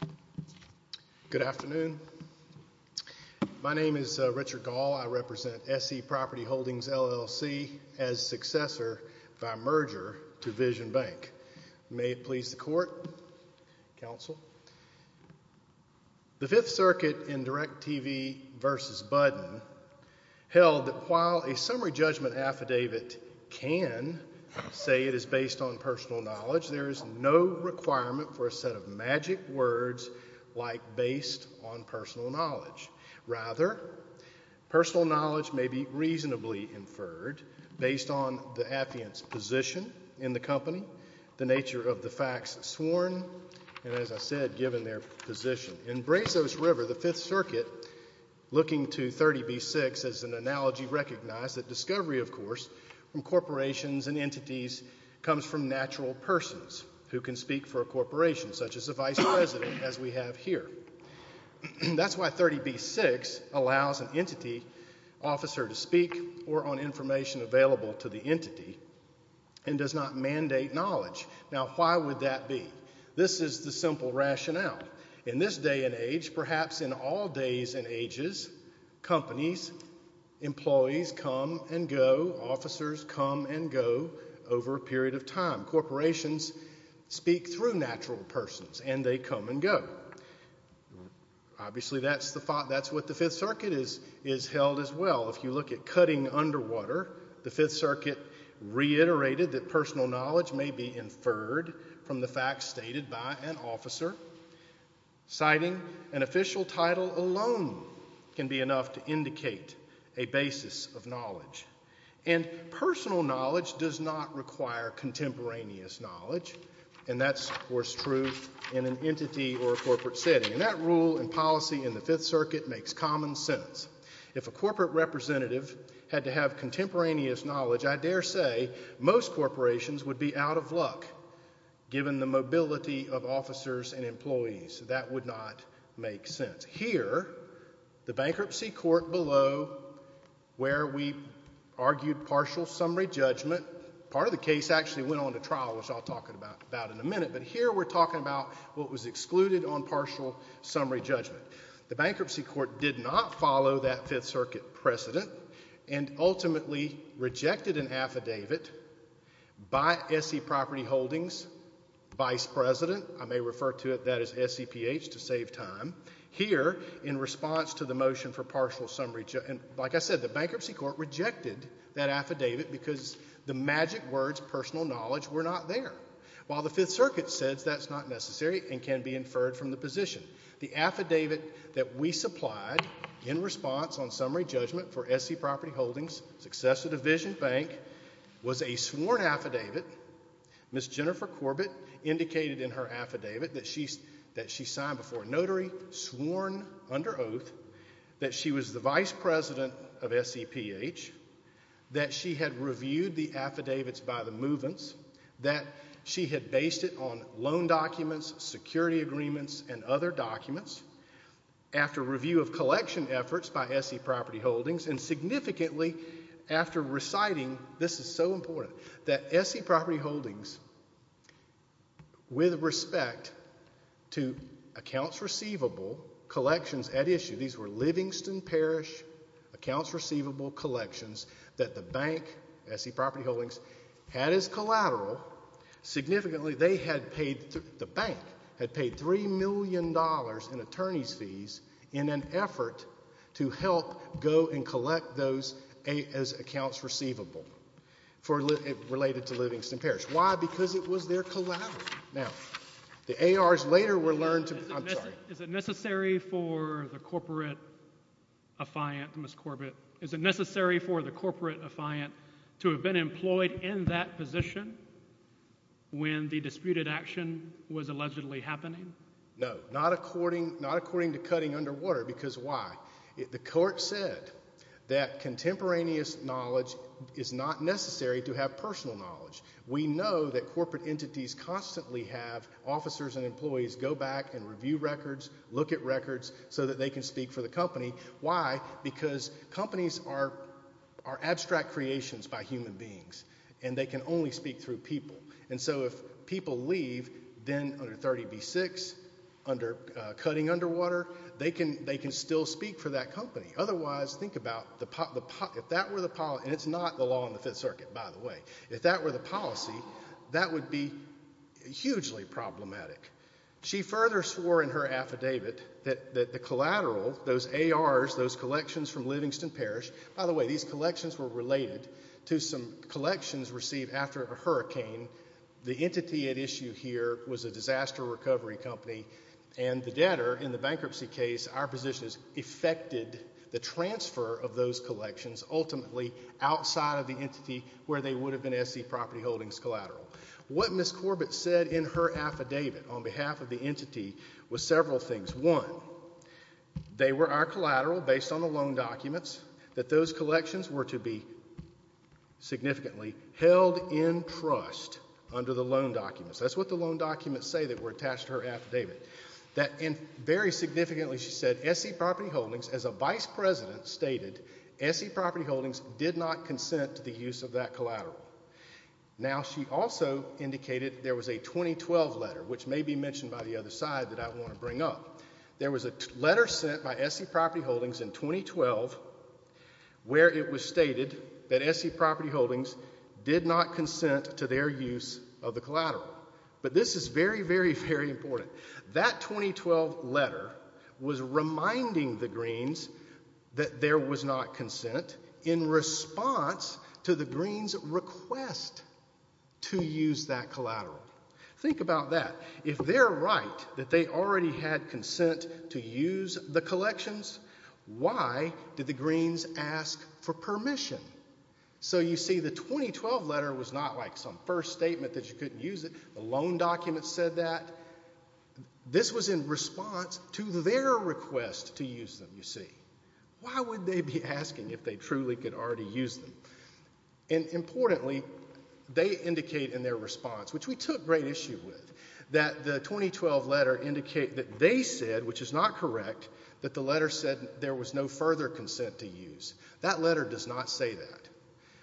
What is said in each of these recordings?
al. Good afternoon. My name is Richard Gahl. I represent S.E. Property Holdings, L.L.C. as successor by merger to Vision Bank. May it please the court, counsel. The Fifth Circuit in Direct TV v. Budden held that while a summary judgment affidavit can say it is based on personal knowledge, there is no requirement for a set of magic words like based on personal knowledge. Rather, personal knowledge may be reasonably inferred based on the affiant's position in the company, the nature of the facts sworn, and as I said, given their position. In Brazos River, the Fifth Circuit, looking to 30B-6 as an analogy, recognized that discovery, of course, from corporations and entities comes from natural persons who can speak for a corporation, such as a vice president, as we have here. That's why 30B-6 allows an entity officer to speak or on information available to the entity and does not mandate knowledge. Now, why would that be? This is the simple rationale. In this day and age, perhaps in all days and ages, companies, employees come and go, officers come and go over a period of time. Corporations speak through natural persons and they come and go. Obviously, that's what the Fifth Circuit has held as well. If you look at cutting underwater, the Fifth Circuit reiterated that personal knowledge may be inferred from the facts stated by an officer, citing an official title alone can be enough to indicate a basis of knowledge. And personal knowledge does not require contemporaneous knowledge, and that's, of course, true in an entity or a corporate setting. And that rule and policy in the Fifth Circuit makes common sense. If a corporate representative had to have contemporaneous knowledge, I dare say most corporations would be out of luck, given the mobility of officers and employees. That would not make sense. Here, the bankruptcy court below, where we argued partial summary judgment, part of the case actually went on to trial, which I'll talk about in a minute, but here we're talking about what was excluded on partial summary judgment. The bankruptcy court did not follow that Fifth Circuit precedent and ultimately rejected an affidavit by S.C. Property Holdings' vice president. I may refer to it, that is, S.C.P.H., to save time. Here, in response to the motion for partial summary judgment, like I said, the bankruptcy court rejected that affidavit because the magic words, personal knowledge, were not there. While the Fifth Circuit says that's not necessary and can be inferred from the position. The affidavit that we supplied in response on summary judgment for S.C. Property Holdings, Successive Division Bank, was a sworn affidavit. Ms. Jennifer Corbett indicated in her affidavit that she signed before a notary, sworn under oath, that she was the vice president of S.C.P.H., that she had reviewed the affidavits by the movements, that she had based it on loan documents, security agreements, and other documents, after review of collection efforts by S.C. Property Holdings, and significantly after reciting, this is so important, that S.C. Property Holdings, with respect to accounts receivable collections at issue, these were Livingston Parish accounts receivable collections, that the bank, S.C. Property Holdings, had as collateral. Significantly, the bank had paid $3 million in attorney's fees in an effort to help go and collect those accounts receivable related to Livingston Parish. Why? Because it was their collateral. Now, the ARs later were learned to— Is it necessary for the corporate affiant, Ms. Corbett, is it necessary for the corporate affiant to have been employed in that position when the disputed action was allegedly happening? No, not according to cutting underwater, because why? The court said that contemporaneous knowledge is not necessary to have personal knowledge. We know that corporate entities constantly have officers and employees go back and review records, look at records, so that they can speak for the company. Why? Because companies are abstract creations by human beings, and they can only speak through people. And so if people leave, then under 30b-6, under cutting underwater, they can still speak for that company. Otherwise, think about, if that were the— And it's not the law in the Fifth Circuit, by the way. If that were the policy, that would be hugely problematic. She further swore in her affidavit that the collateral, those ARs, those collections from Livingston Parish— By the way, these collections were related to some collections received after a hurricane. The entity at issue here was a disaster recovery company, and the debtor in the bankruptcy case, our position is, affected the transfer of those collections, ultimately outside of the entity where they would have been S.C. Property Holdings collateral. What Ms. Corbett said in her affidavit on behalf of the entity was several things. One, they were our collateral based on the loan documents, that those collections were to be significantly held in trust under the loan documents. That's what the loan documents say that were attached to her affidavit. That very significantly, she said, S.C. Property Holdings, as a vice president, stated, S.C. Property Holdings did not consent to the use of that collateral. Now, she also indicated there was a 2012 letter, which may be mentioned by the other side that I want to bring up. There was a letter sent by S.C. Property Holdings in 2012 where it was stated that S.C. Property Holdings did not consent to their use of the collateral. But this is very, very, very important. That 2012 letter was reminding the Greens that there was not consent in response to the Greens' request to use that collateral. Think about that. If they're right that they already had consent to use the collections, why did the Greens ask for permission? So you see, the 2012 letter was not like some first statement that you couldn't use it. The loan documents said that. This was in response to their request to use them, you see. Why would they be asking if they truly could already use them? And importantly, they indicate in their response, which we took great issue with, that the 2012 letter indicated that they said, which is not correct, that the letter said there was no further consent to use. That letter does not say that.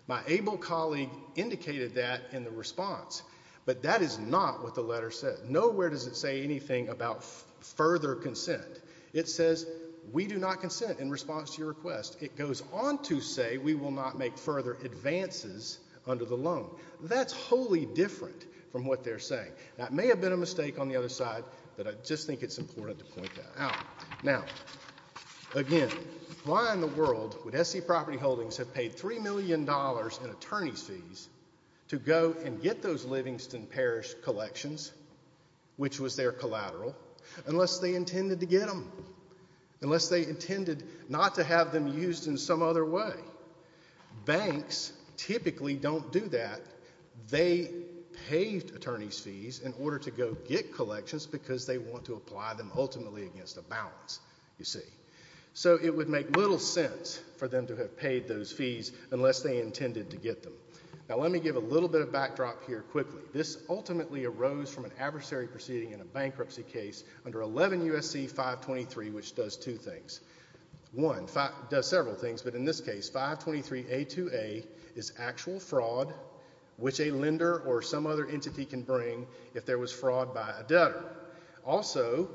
My able colleague indicated that in the response. But that is not what the letter said. Nowhere does it say anything about further consent. It says we do not consent in response to your request. It goes on to say we will not make further advances under the loan. That's wholly different from what they're saying. That may have been a mistake on the other side, but I just think it's important to point that out. Now, again, why in the world would S.C. Property Holdings have paid $3 million in attorney's fees to go and get those Livingston Parish collections, which was their collateral, unless they intended to get them, unless they intended not to have them used in some other way? Banks typically don't do that. They paid attorney's fees in order to go get collections because they want to apply them ultimately against a balance, you see. So it would make little sense for them to have paid those fees unless they intended to get them. Now, let me give a little bit of backdrop here quickly. This ultimately arose from an adversary proceeding in a bankruptcy case under 11 U.S.C. 523, which does two things. One, does several things, but in this case, 523A2A is actual fraud, which a lender or some other entity can bring if there was fraud by a debtor. Also,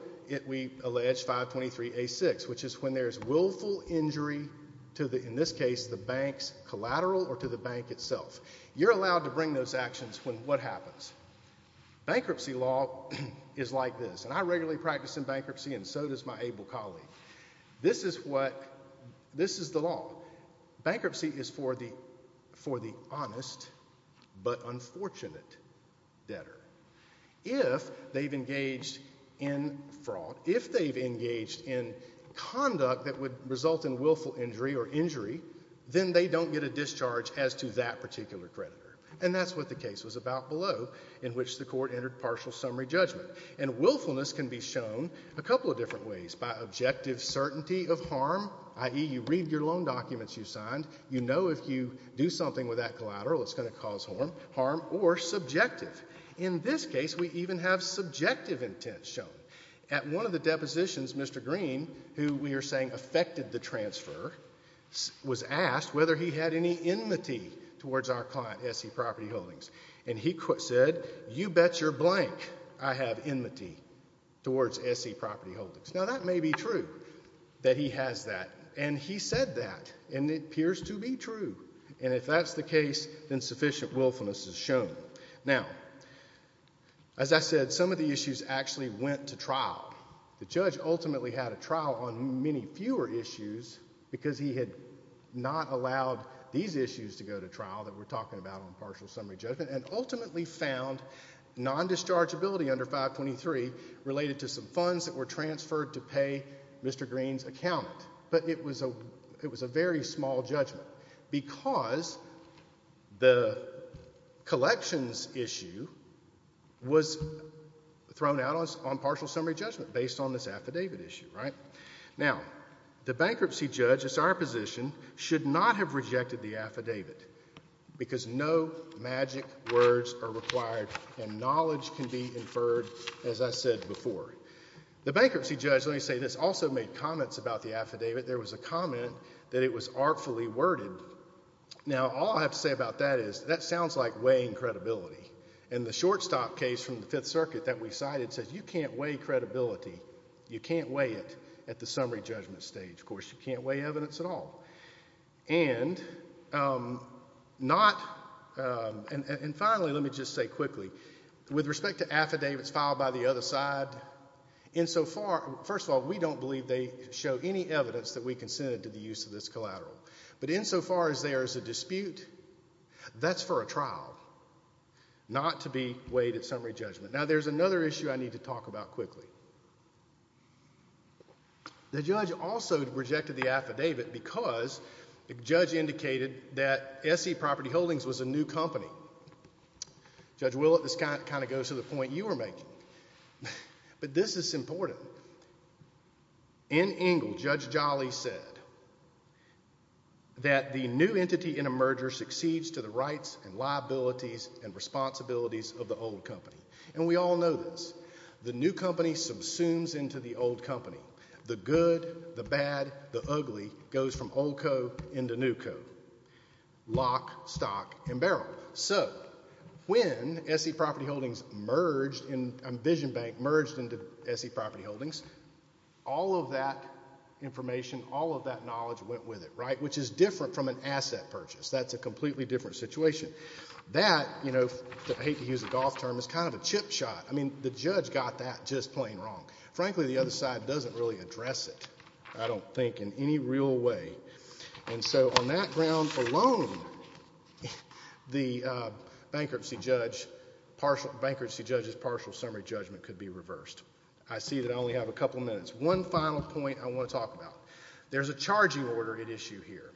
we allege 523A6, which is when there is willful injury to the, in this case, the bank's collateral or to the bank itself. You're allowed to bring those actions when what happens? Bankruptcy law is like this, and I regularly practice in bankruptcy and so does my able colleague. This is the law. Bankruptcy is for the honest but unfortunate debtor. If they've engaged in fraud, if they've engaged in conduct that would result in willful injury or injury, then they don't get a discharge as to that particular creditor. And that's what the case was about below, in which the court entered partial summary judgment. And willfulness can be shown a couple of different ways. By objective certainty of harm, i.e., you read your loan documents you signed. You know if you do something with that collateral, it's going to cause harm or subjective. In this case, we even have subjective intent shown. At one of the depositions, Mr. Green, who we are saying affected the transfer, was asked whether he had any enmity towards our client, S.E. Property Holdings. And he said, you bet your blank I have enmity towards S.E. Property Holdings. Now, that may be true that he has that, and he said that, and it appears to be true. And if that's the case, then sufficient willfulness is shown. Now, as I said, some of the issues actually went to trial. The judge ultimately had a trial on many fewer issues because he had not allowed these issues to go to trial that we're talking about on partial summary judgment and ultimately found non-dischargeability under 523 related to some funds that were transferred to pay Mr. Green's accountant. But it was a very small judgment because the collections issue was thrown out on partial summary judgment based on this affidavit issue. Now, the bankruptcy judge, it's our position, should not have rejected the affidavit because no magic words are required and knowledge can be inferred, as I said before. The bankruptcy judge, let me say this, also made comments about the affidavit. There was a comment that it was artfully worded. Now, all I have to say about that is that sounds like weighing credibility. And the shortstop case from the Fifth Circuit that we cited says you can't weigh credibility. You can't weigh it at the summary judgment stage. Of course, you can't weigh evidence at all. And finally, let me just say quickly, with respect to affidavits filed by the other side, first of all, we don't believe they show any evidence that we consented to the use of this collateral. But insofar as there is a dispute, that's for a trial, not to be weighed at summary judgment. Now, there's another issue I need to talk about quickly. The judge also rejected the affidavit because the judge indicated that S.E. Property Holdings was a new company. Judge Willett, this kind of goes to the point you were making. But this is important. In Engle, Judge Jolly said that the new entity in a merger succeeds to the rights and liabilities and responsibilities of the old company. And we all know this. The new company subsumes into the old company. The good, the bad, the ugly goes from old co. into new co. Lock, stock, and barrel. So when S.E. Property Holdings merged, Vision Bank merged into S.E. Property Holdings, all of that information, all of that knowledge went with it, right, which is different from an asset purchase. That's a completely different situation. That, you know, I hate to use a golf term, is kind of a chip shot. I mean, the judge got that just plain wrong. Frankly, the other side doesn't really address it, I don't think, in any real way. And so on that ground alone, the bankruptcy judge's partial summary judgment could be reversed. I see that I only have a couple minutes. One final point I want to talk about. There's a charging order at issue here.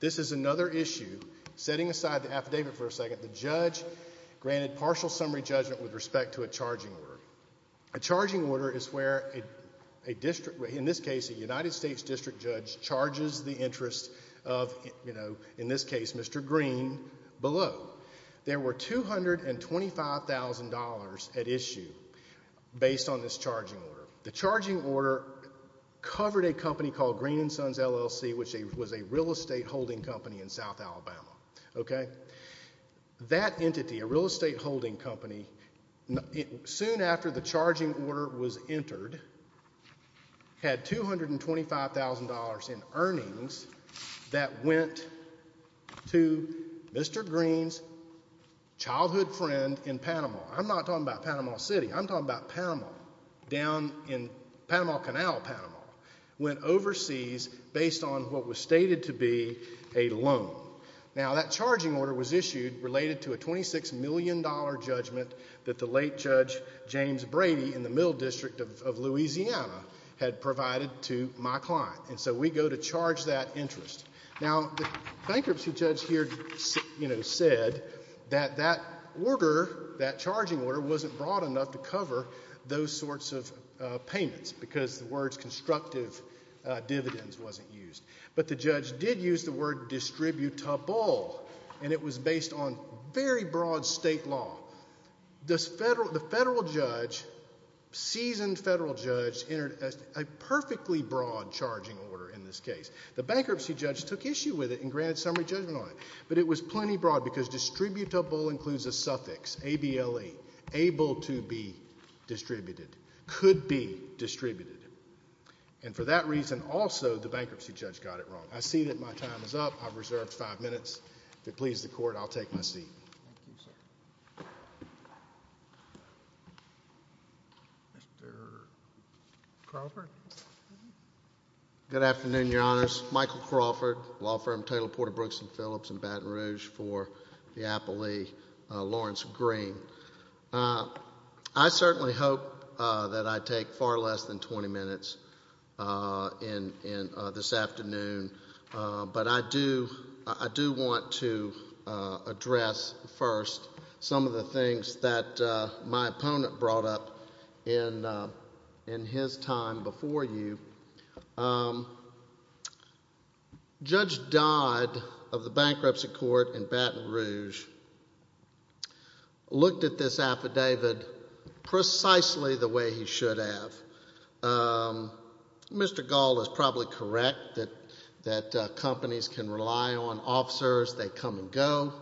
This is another issue. Setting aside the affidavit for a second, the judge granted partial summary judgment with respect to a charging order. A charging order is where, in this case, a United States district judge charges the interest of, you know, in this case, Mr. Green below. There were $225,000 at issue based on this charging order. The charging order covered a company called Green & Sons, LLC, which was a real estate holding company in South Alabama. That entity, a real estate holding company, soon after the charging order was entered, had $225,000 in earnings that went to Mr. Green's childhood friend in Panama. I'm not talking about Panama City. I'm talking about Panama, down in Panama Canal, Panama, went overseas based on what was stated to be a loan. Now, that charging order was issued related to a $26 million judgment that the late Judge James Brady in the Middle District of Louisiana had provided to my client. And so we go to charge that interest. Now, the bankruptcy judge here, you know, said that that order, that charging order, wasn't broad enough to cover those sorts of payments because the words constructive dividends wasn't used. But the judge did use the word distributable, and it was based on very broad state law. The federal judge, seasoned federal judge, entered a perfectly broad charging order in this case. The bankruptcy judge took issue with it and granted summary judgment on it. But it was plenty broad because distributable includes a suffix, A-B-L-E, able to be distributed, could be distributed. And for that reason, also, the bankruptcy judge got it wrong. I see that my time is up. I've reserved five minutes. If it pleases the Court, I'll take my seat. Thank you, sir. Mr. Crawford? Good afternoon, Your Honors. Michael Crawford, law firm Taylor, Porter, Brooks, and Phillips in Baton Rouge for the Appley Lawrence Green. I certainly hope that I take far less than 20 minutes this afternoon, but I do want to address first some of the things that my opponent brought up in his time before you. Judge Dodd of the Bankruptcy Court in Baton Rouge looked at this affidavit precisely the way he should have. Mr. Gall is probably correct that companies can rely on officers. They come and go,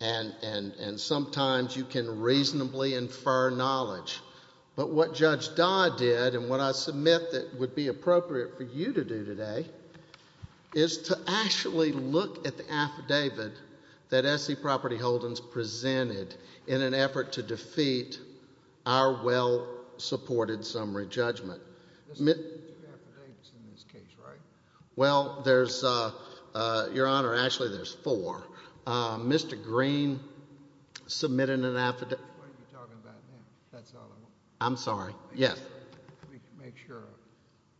and sometimes you can reasonably infer knowledge. But what Judge Dodd did and what I submit that would be appropriate for you to do today is to actually look at the affidavit that S.C. Property Holdings presented in an effort to defeat our well-supported summary judgment. There's two affidavits in this case, right? Well, there's, Your Honor, actually there's four. Mr. Green submitted an affidavit. I'm sorry, yes.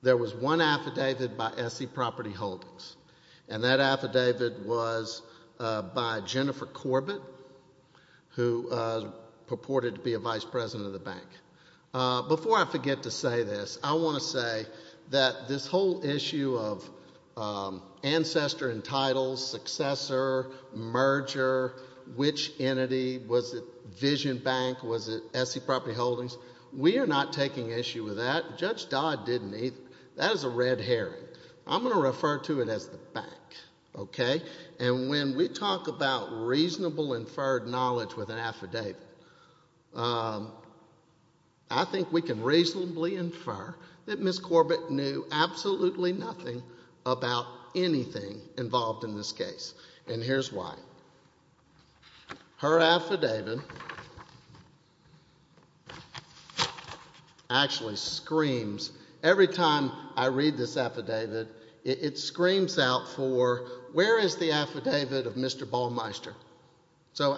There was one affidavit by S.C. Property Holdings, and that affidavit was by Jennifer Corbett, who purported to be a vice president of the bank. Before I forget to say this, I want to say that this whole issue of ancestor and title, successor, merger, which entity, was it Vision Bank? Was it S.C. Property Holdings? We are not taking issue with that. Judge Dodd didn't either. That is a red herring. I'm going to refer to it as the bank, okay? And when we talk about reasonable inferred knowledge with an affidavit, I think we can reasonably infer that Ms. Corbett knew absolutely nothing about anything involved in this case. And here's why. Her affidavit actually screams. Every time I read this affidavit, it screams out for where is the affidavit of Mr. Balmeister? So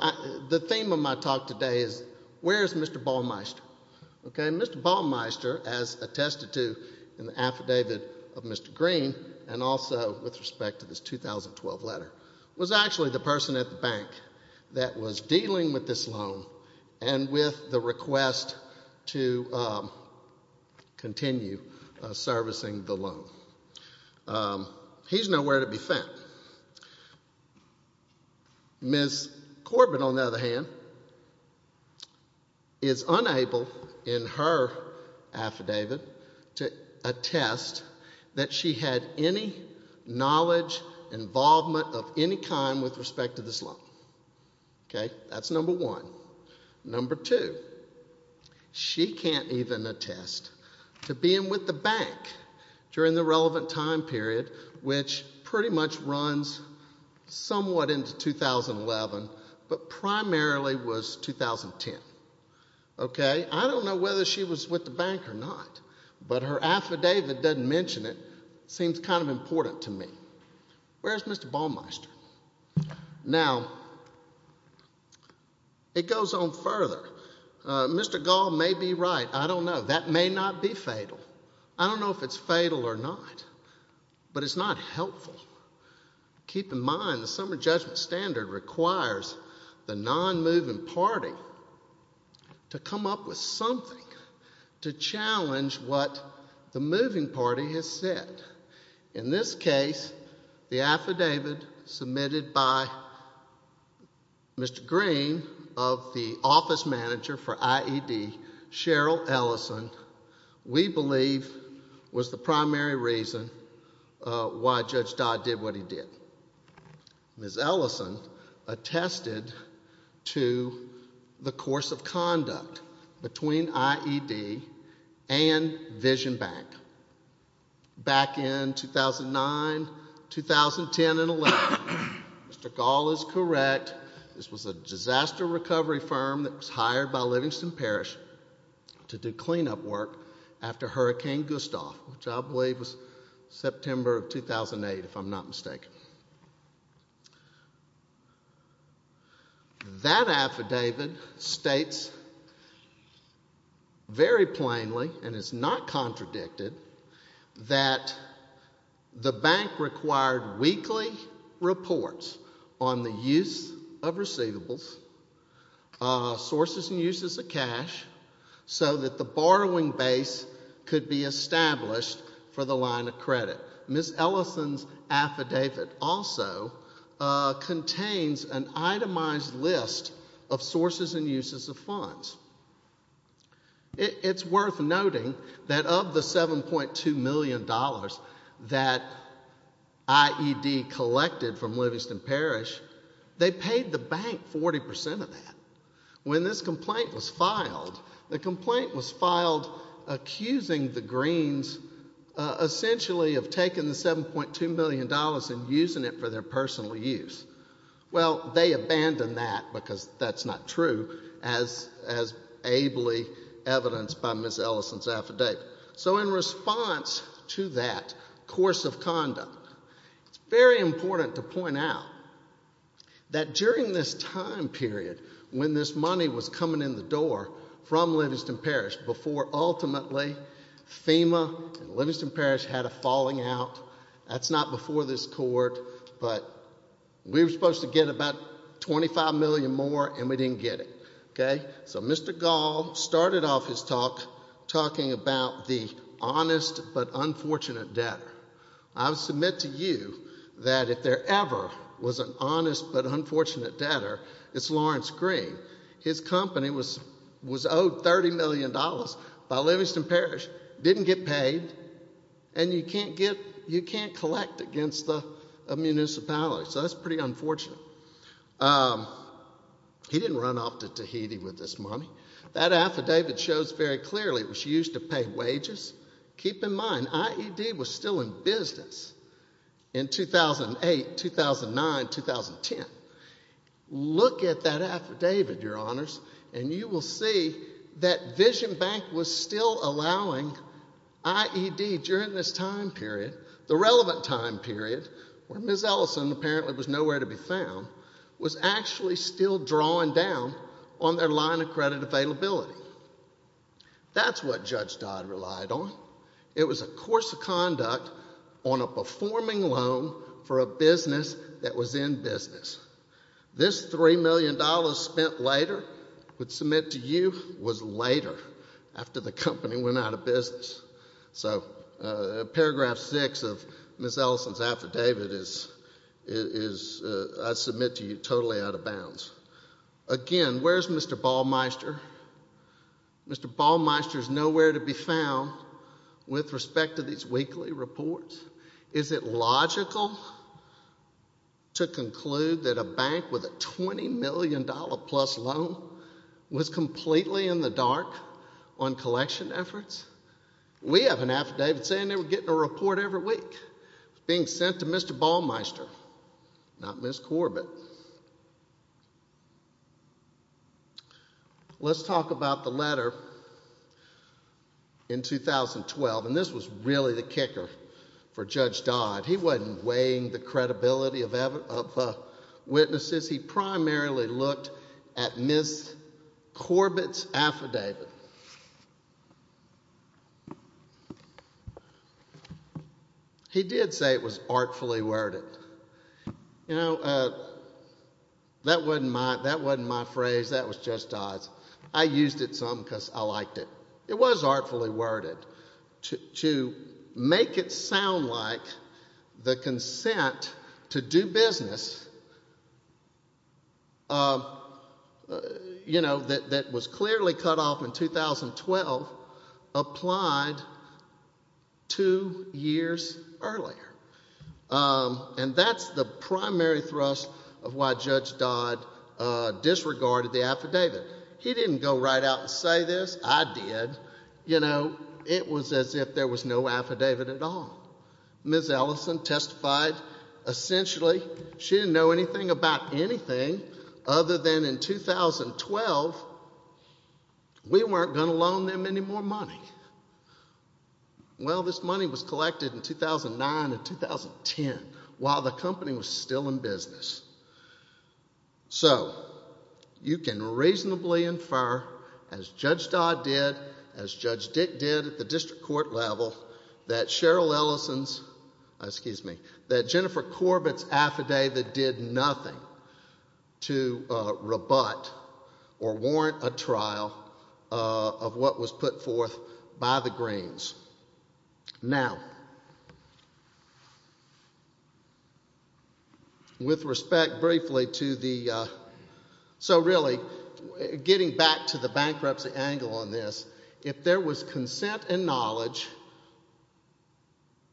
the theme of my talk today is where is Mr. Balmeister? Mr. Balmeister, as attested to in the affidavit of Mr. Green and also with respect to this 2012 letter, was actually the person at the bank that was dealing with this loan and with the request to continue servicing the loan. He's nowhere to be found. Ms. Corbett, on the other hand, is unable in her affidavit to attest that she had any knowledge, involvement of any kind with respect to this loan. Okay? That's number one. Number two, she can't even attest to being with the bank during the relevant time period, which pretty much runs somewhat into 2011, but primarily was 2010. Okay? I don't know whether she was with the bank or not, but her affidavit doesn't mention it. Seems kind of important to me. Where's Mr. Balmeister? Now, it goes on further. Mr. Gall may be right. I don't know. That may not be fatal. I don't know if it's fatal or not, but it's not helpful. Keep in mind the Summer Judgment Standard requires the non-moving party to come up with something to challenge what the moving party has said. In this case, the affidavit submitted by Mr. Green of the office manager for IED, Cheryl Ellison, we believe was the primary reason why Judge Dodd did what he did. Ms. Ellison attested to the course of conduct between IED and Vision Bank back in 2009, 2010, and 11. Mr. Gall is correct. This was a disaster recovery firm that was hired by Livingston Parish to do cleanup work after Hurricane Gustav, which I believe was September of 2008, if I'm not mistaken. That affidavit states very plainly, and it's not contradicted, that the bank required weekly reports on the use of receivables, sources and uses of cash, so that the borrowing base could be established for the line of credit. Ms. Ellison's affidavit also contains an itemized list of sources and uses of funds. It's worth noting that of the $7.2 million that IED collected from Livingston Parish, they paid the bank 40% of that. When this complaint was filed, the complaint was filed accusing the Greens essentially of taking the $7.2 million and using it for their personal use. Well, they abandoned that because that's not true, as ably evidenced by Ms. Ellison's affidavit. So in response to that course of conduct, it's very important to point out that during this time period when this money was coming in the door from Livingston Parish, before ultimately FEMA and Livingston Parish had a falling out, that's not before this court, but we were supposed to get about $25 million more and we didn't get it. So Mr. Gall started off his talk talking about the honest but unfortunate debtor. I submit to you that if there ever was an honest but unfortunate debtor, it's Lawrence Green. His company was owed $30 million by Livingston Parish, didn't get paid, and you can't collect against a municipality. So that's pretty unfortunate. He didn't run off to Tahiti with this money. That affidavit shows very clearly it was used to pay wages. Keep in mind, IED was still in business in 2008, 2009, 2010. Look at that affidavit, Your Honors, and you will see that Vision Bank was still allowing IED during this time period, the relevant time period, where Ms. Ellison apparently was nowhere to be found, was actually still drawing down on their line of credit availability. That's what Judge Dodd relied on. It was a course of conduct on a performing loan for a business that was in business. This $3 million spent later, I submit to you, was later, after the company went out of business. So paragraph six of Ms. Ellison's affidavit is, I submit to you, totally out of bounds. Again, where's Mr. Balmeister? Mr. Balmeister is nowhere to be found with respect to these weekly reports. Is it logical to conclude that a bank with a $20 million-plus loan was completely in the dark on collection efforts? We have an affidavit saying they were getting a report every week. It was being sent to Mr. Balmeister, not Ms. Corbett. Let's talk about the letter in 2012, and this was really the kicker for Judge Dodd. He wasn't weighing the credibility of witnesses. He primarily looked at Ms. Corbett's affidavit. He did say it was artfully worded. You know, that wasn't my phrase. That was Judge Dodd's. I used it some because I liked it. It was artfully worded. To make it sound like the consent to do business, you know, that was clearly cut off in 2012, applied two years earlier. And that's the primary thrust of why Judge Dodd disregarded the affidavit. He didn't go right out and say this. I did. You know, it was as if there was no affidavit at all. Ms. Ellison testified essentially she didn't know anything about anything other than in 2012 we weren't going to loan them any more money. Well, this money was collected in 2009 and 2010 while the company was still in business. So you can reasonably infer as Judge Dodd did, as Judge Dick did at the district court level, that Cheryl Ellison's, excuse me, that Jennifer Corbett's affidavit did nothing to rebut or warrant a trial of what was put forth by the Greens. Now, with respect briefly to the, so really getting back to the bankruptcy angle on this, if there was consent and knowledge,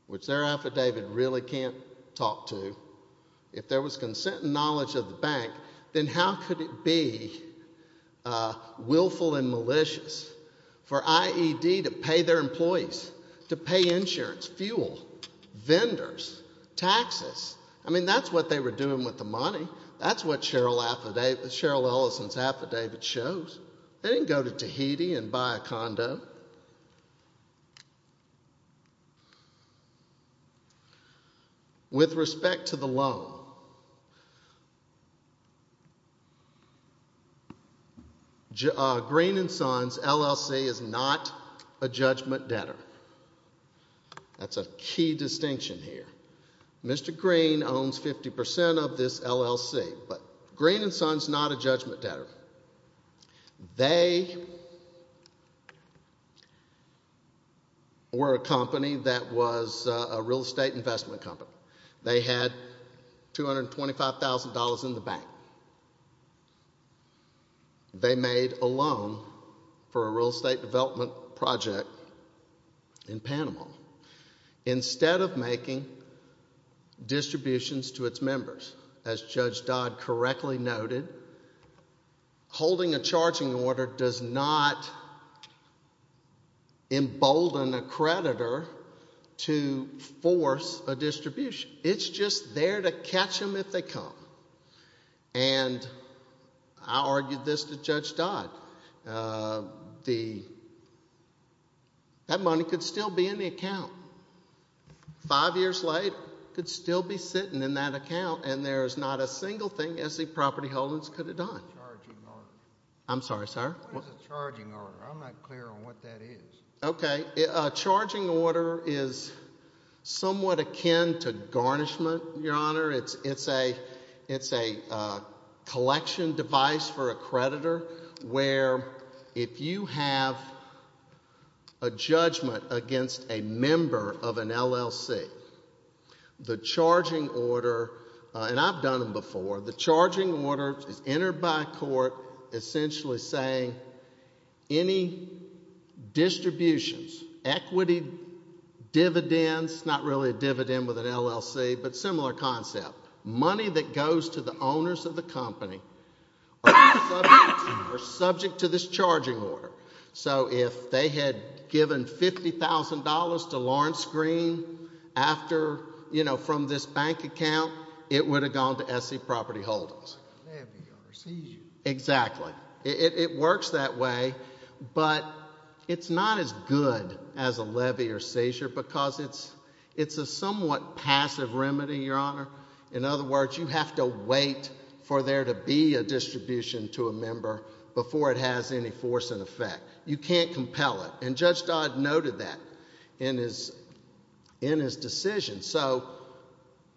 which their affidavit really can't talk to, if there was consent and knowledge of the bank, then how could it be willful and malicious for IED to pay their employees, to pay insurance, fuel, vendors, taxes? I mean, that's what they were doing with the money. That's what Cheryl Ellison's affidavit shows. They didn't go to Tahiti and buy a condo. With respect to the loan, Greene & Sons LLC is not a judgment debtor. That's a key distinction here. Mr. Greene owns 50% of this LLC, but Greene & Sons is not a judgment debtor. They were a company that was a real estate investment company. They had $225,000 in the bank. They made a loan for a real estate development project in Panama. Instead of making distributions to its members, as Judge Dodd correctly noted, holding a charging order does not embolden a creditor to force a distribution. It's just there to catch them if they come. And I argued this to Judge Dodd. That money could still be in the account. Five years later, it could still be sitting in that account, and there is not a single thing SE Property Holdings could have done. What is a charging order? I'm sorry, sir? What is a charging order? I'm not clear on what that is. Okay. A charging order is somewhat akin to garnishment, Your Honor. It's a collection device for a creditor where if you have a judgment against a member of an LLC, the charging order, and I've done them before, the charging order is entered by a court essentially saying any distributions, equity, dividends, not really a dividend with an LLC, but similar concept. Money that goes to the owners of the company are subject to this charging order. So if they had given $50,000 to Lawrence Green after, you know, from this bank account, it would have gone to SE Property Holdings. Exactly. It works that way. But it's not as good as a levy or seizure because it's a somewhat passive remedy, Your Honor. In other words, you have to wait for there to be a distribution to a member before it has any force and effect. You can't compel it, and Judge Dodd noted that in his decision. So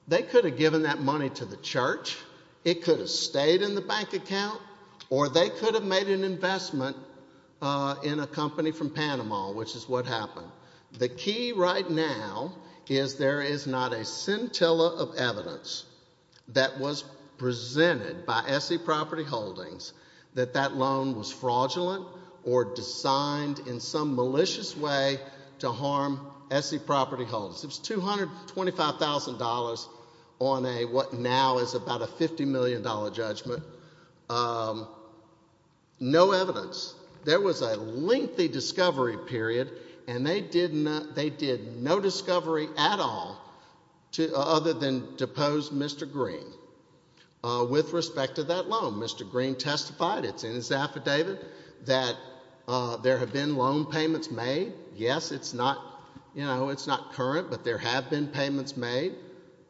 they could have given that money to the church, it could have stayed in the bank account, or they could have made an investment in a company from Panama, which is what happened. The key right now is there is not a scintilla of evidence that was presented by SE Property Holdings that that loan was fraudulent or designed in some malicious way to harm SE Property Holdings. It was $225,000 on what now is about a $50 million judgment. No evidence. There was a lengthy discovery period, and they did no discovery at all other than depose Mr. Green with respect to that loan. Mr. Green testified, it's in his affidavit, that there have been loan payments made. Yes, it's not, you know, it's not current, but there have been payments made.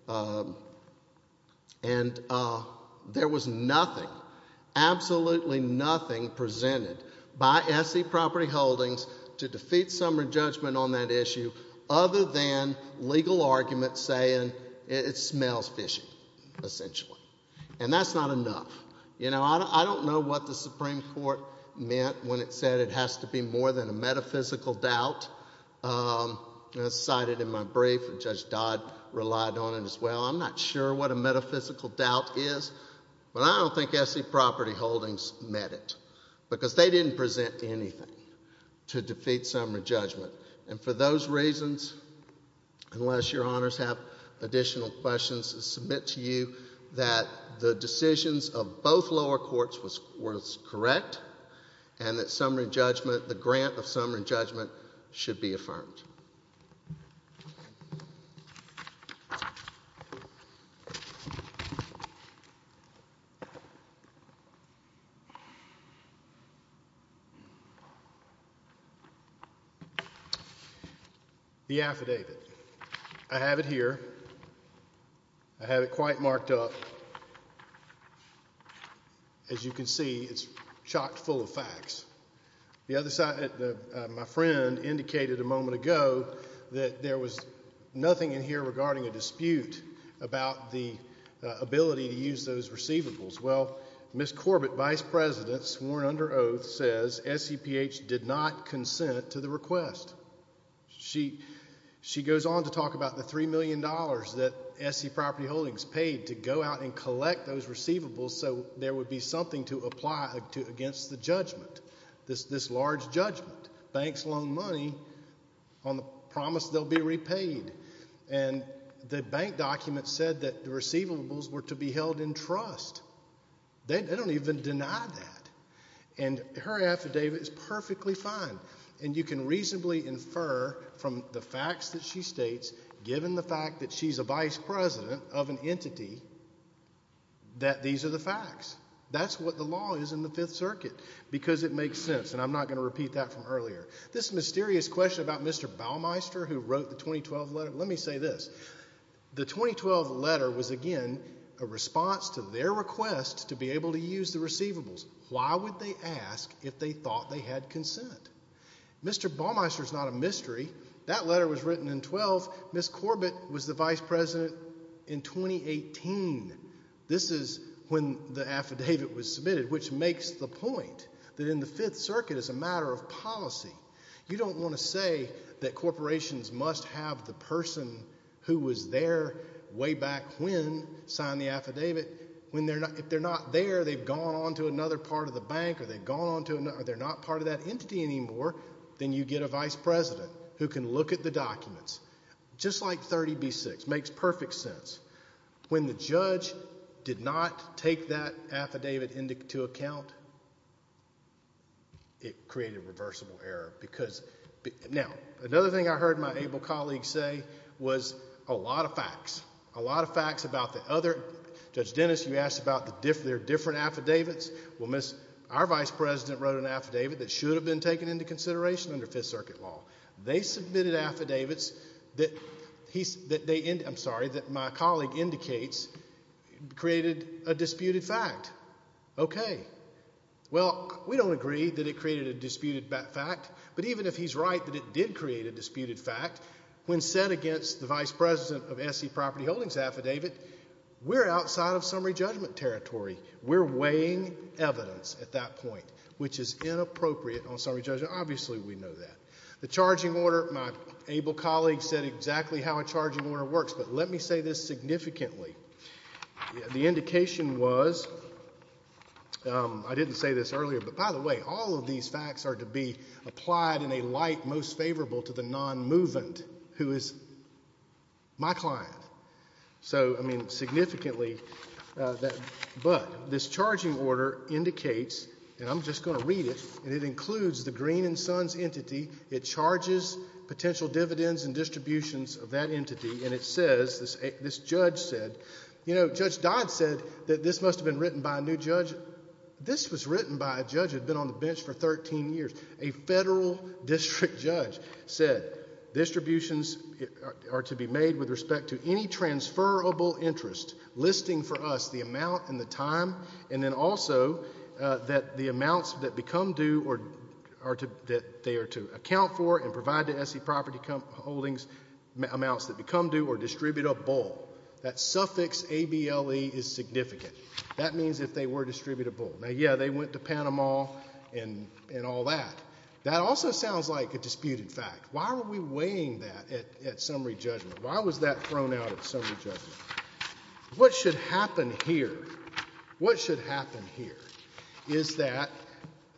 And there was nothing, absolutely nothing presented by SE Property Holdings to defeat some re-judgment on that issue other than legal arguments saying it smells fishy, essentially. And that's not enough. You know, I don't know what the Supreme Court meant when it said it has to be more than a metaphysical doubt. As cited in my brief, Judge Dodd relied on it as well. I'm not sure what a metaphysical doubt is, but I don't think SE Property Holdings meant it because they didn't present anything to defeat some re-judgment. And for those reasons, unless your honors have additional questions, I submit to you that the decisions of both lower courts were correct and that some re-judgment, the grant of some re-judgment should be affirmed. The affidavit, I have it here. I have it quite marked up. As you can see, it's chocked full of facts. The other side, my friend indicated a moment ago that there was nothing in here regarding a dispute about the ability to use those receivables. Well, Ms. Corbett, vice president, sworn under oath, says SEPH did not consent to the request. She goes on to talk about the $3 million that SE Property Holdings paid to go out and collect those receivables so there would be something to apply against the judgment, this large judgment. Banks loan money on the promise they'll be repaid. And the bank document said that the receivables were to be held in trust. They don't even deny that. And her affidavit is perfectly fine, and you can reasonably infer from the facts that she states, given the fact that she's a vice president of an entity, that these are the facts. That's what the law is in the Fifth Circuit because it makes sense, and I'm not going to repeat that from earlier. This mysterious question about Mr. Balmeister who wrote the 2012 letter, let me say this. The 2012 letter was, again, a response to their request to be able to use the receivables. Why would they ask if they thought they had consent? Mr. Balmeister's not a mystery. That letter was written in 12. Ms. Corbett was the vice president in 2018. This is when the affidavit was submitted, which makes the point that in the Fifth Circuit it's a matter of policy. You don't want to say that corporations must have the person who was there way back when sign the affidavit. If they're not there, they've gone on to another part of the bank, or they're not part of that entity anymore, then you get a vice president who can look at the documents. Just like 30B-6. It makes perfect sense. When the judge did not take that affidavit into account, it created a reversible error. Now, another thing I heard my able colleague say was a lot of facts, a lot of facts about the other. Judge Dennis, you asked about their different affidavits. Well, our vice president wrote an affidavit that should have been taken into consideration under Fifth Circuit law. They submitted affidavits that my colleague indicates created a disputed fact. Okay. Well, we don't agree that it created a disputed fact, but even if he's right that it did create a disputed fact, when said against the vice president of S.C. Property Holdings' affidavit, we're outside of summary judgment territory. We're weighing evidence at that point, which is inappropriate on summary judgment. Obviously we know that. The charging order, my able colleague said exactly how a charging order works, but let me say this significantly. The indication was, I didn't say this earlier, but by the way, all of these facts are to be applied in a light most favorable to the non-movement who is my client. So, I mean, significantly, but this charging order indicates, and I'm just going to read it, and it includes the Green and Sons entity, it charges potential dividends and distributions of that entity, and it says, this judge said, you know, Judge Dodd said that this must have been written by a new judge. This was written by a judge who had been on the bench for 13 years. A federal district judge said, distributions are to be made with respect to any transferable interest, listing for us the amount and the time, and then also that the amounts that become due or that they are to account for and provide to S.C. Property Holdings, amounts that become due or distributeable. That suffix, A-B-L-E, is significant. That means if they were distributable. Now, yeah, they went to Panama and all that. That also sounds like a disputed fact. Why were we weighing that at summary judgment? Why was that thrown out at summary judgment? What should happen here? What should happen here is that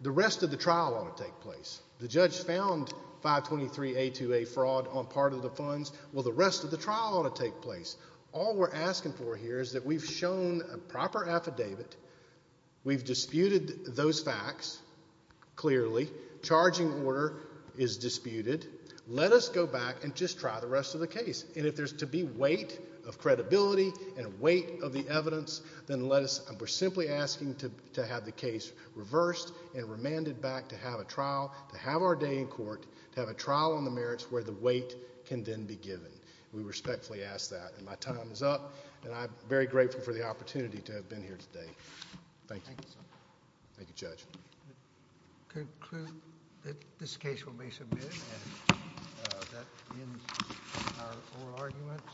the rest of the trial ought to take place. The judge found 523A2A fraud on part of the funds. Well, the rest of the trial ought to take place. All we're asking for here is that we've shown a proper affidavit, we've disputed those facts clearly, charging order is disputed, let us go back and just try the rest of the case. And if there's to be weight of credibility and weight of the evidence, then we're simply asking to have the case reversed and remanded back to have a trial, to have our day in court, to have a trial on the merits where the weight can then be given. We respectfully ask that. And my time is up, and I'm very grateful for the opportunity to have been here today. Thank you. Thank you, Judge. I conclude that this case will be submitted, and that ends our oral arguments. Thank you.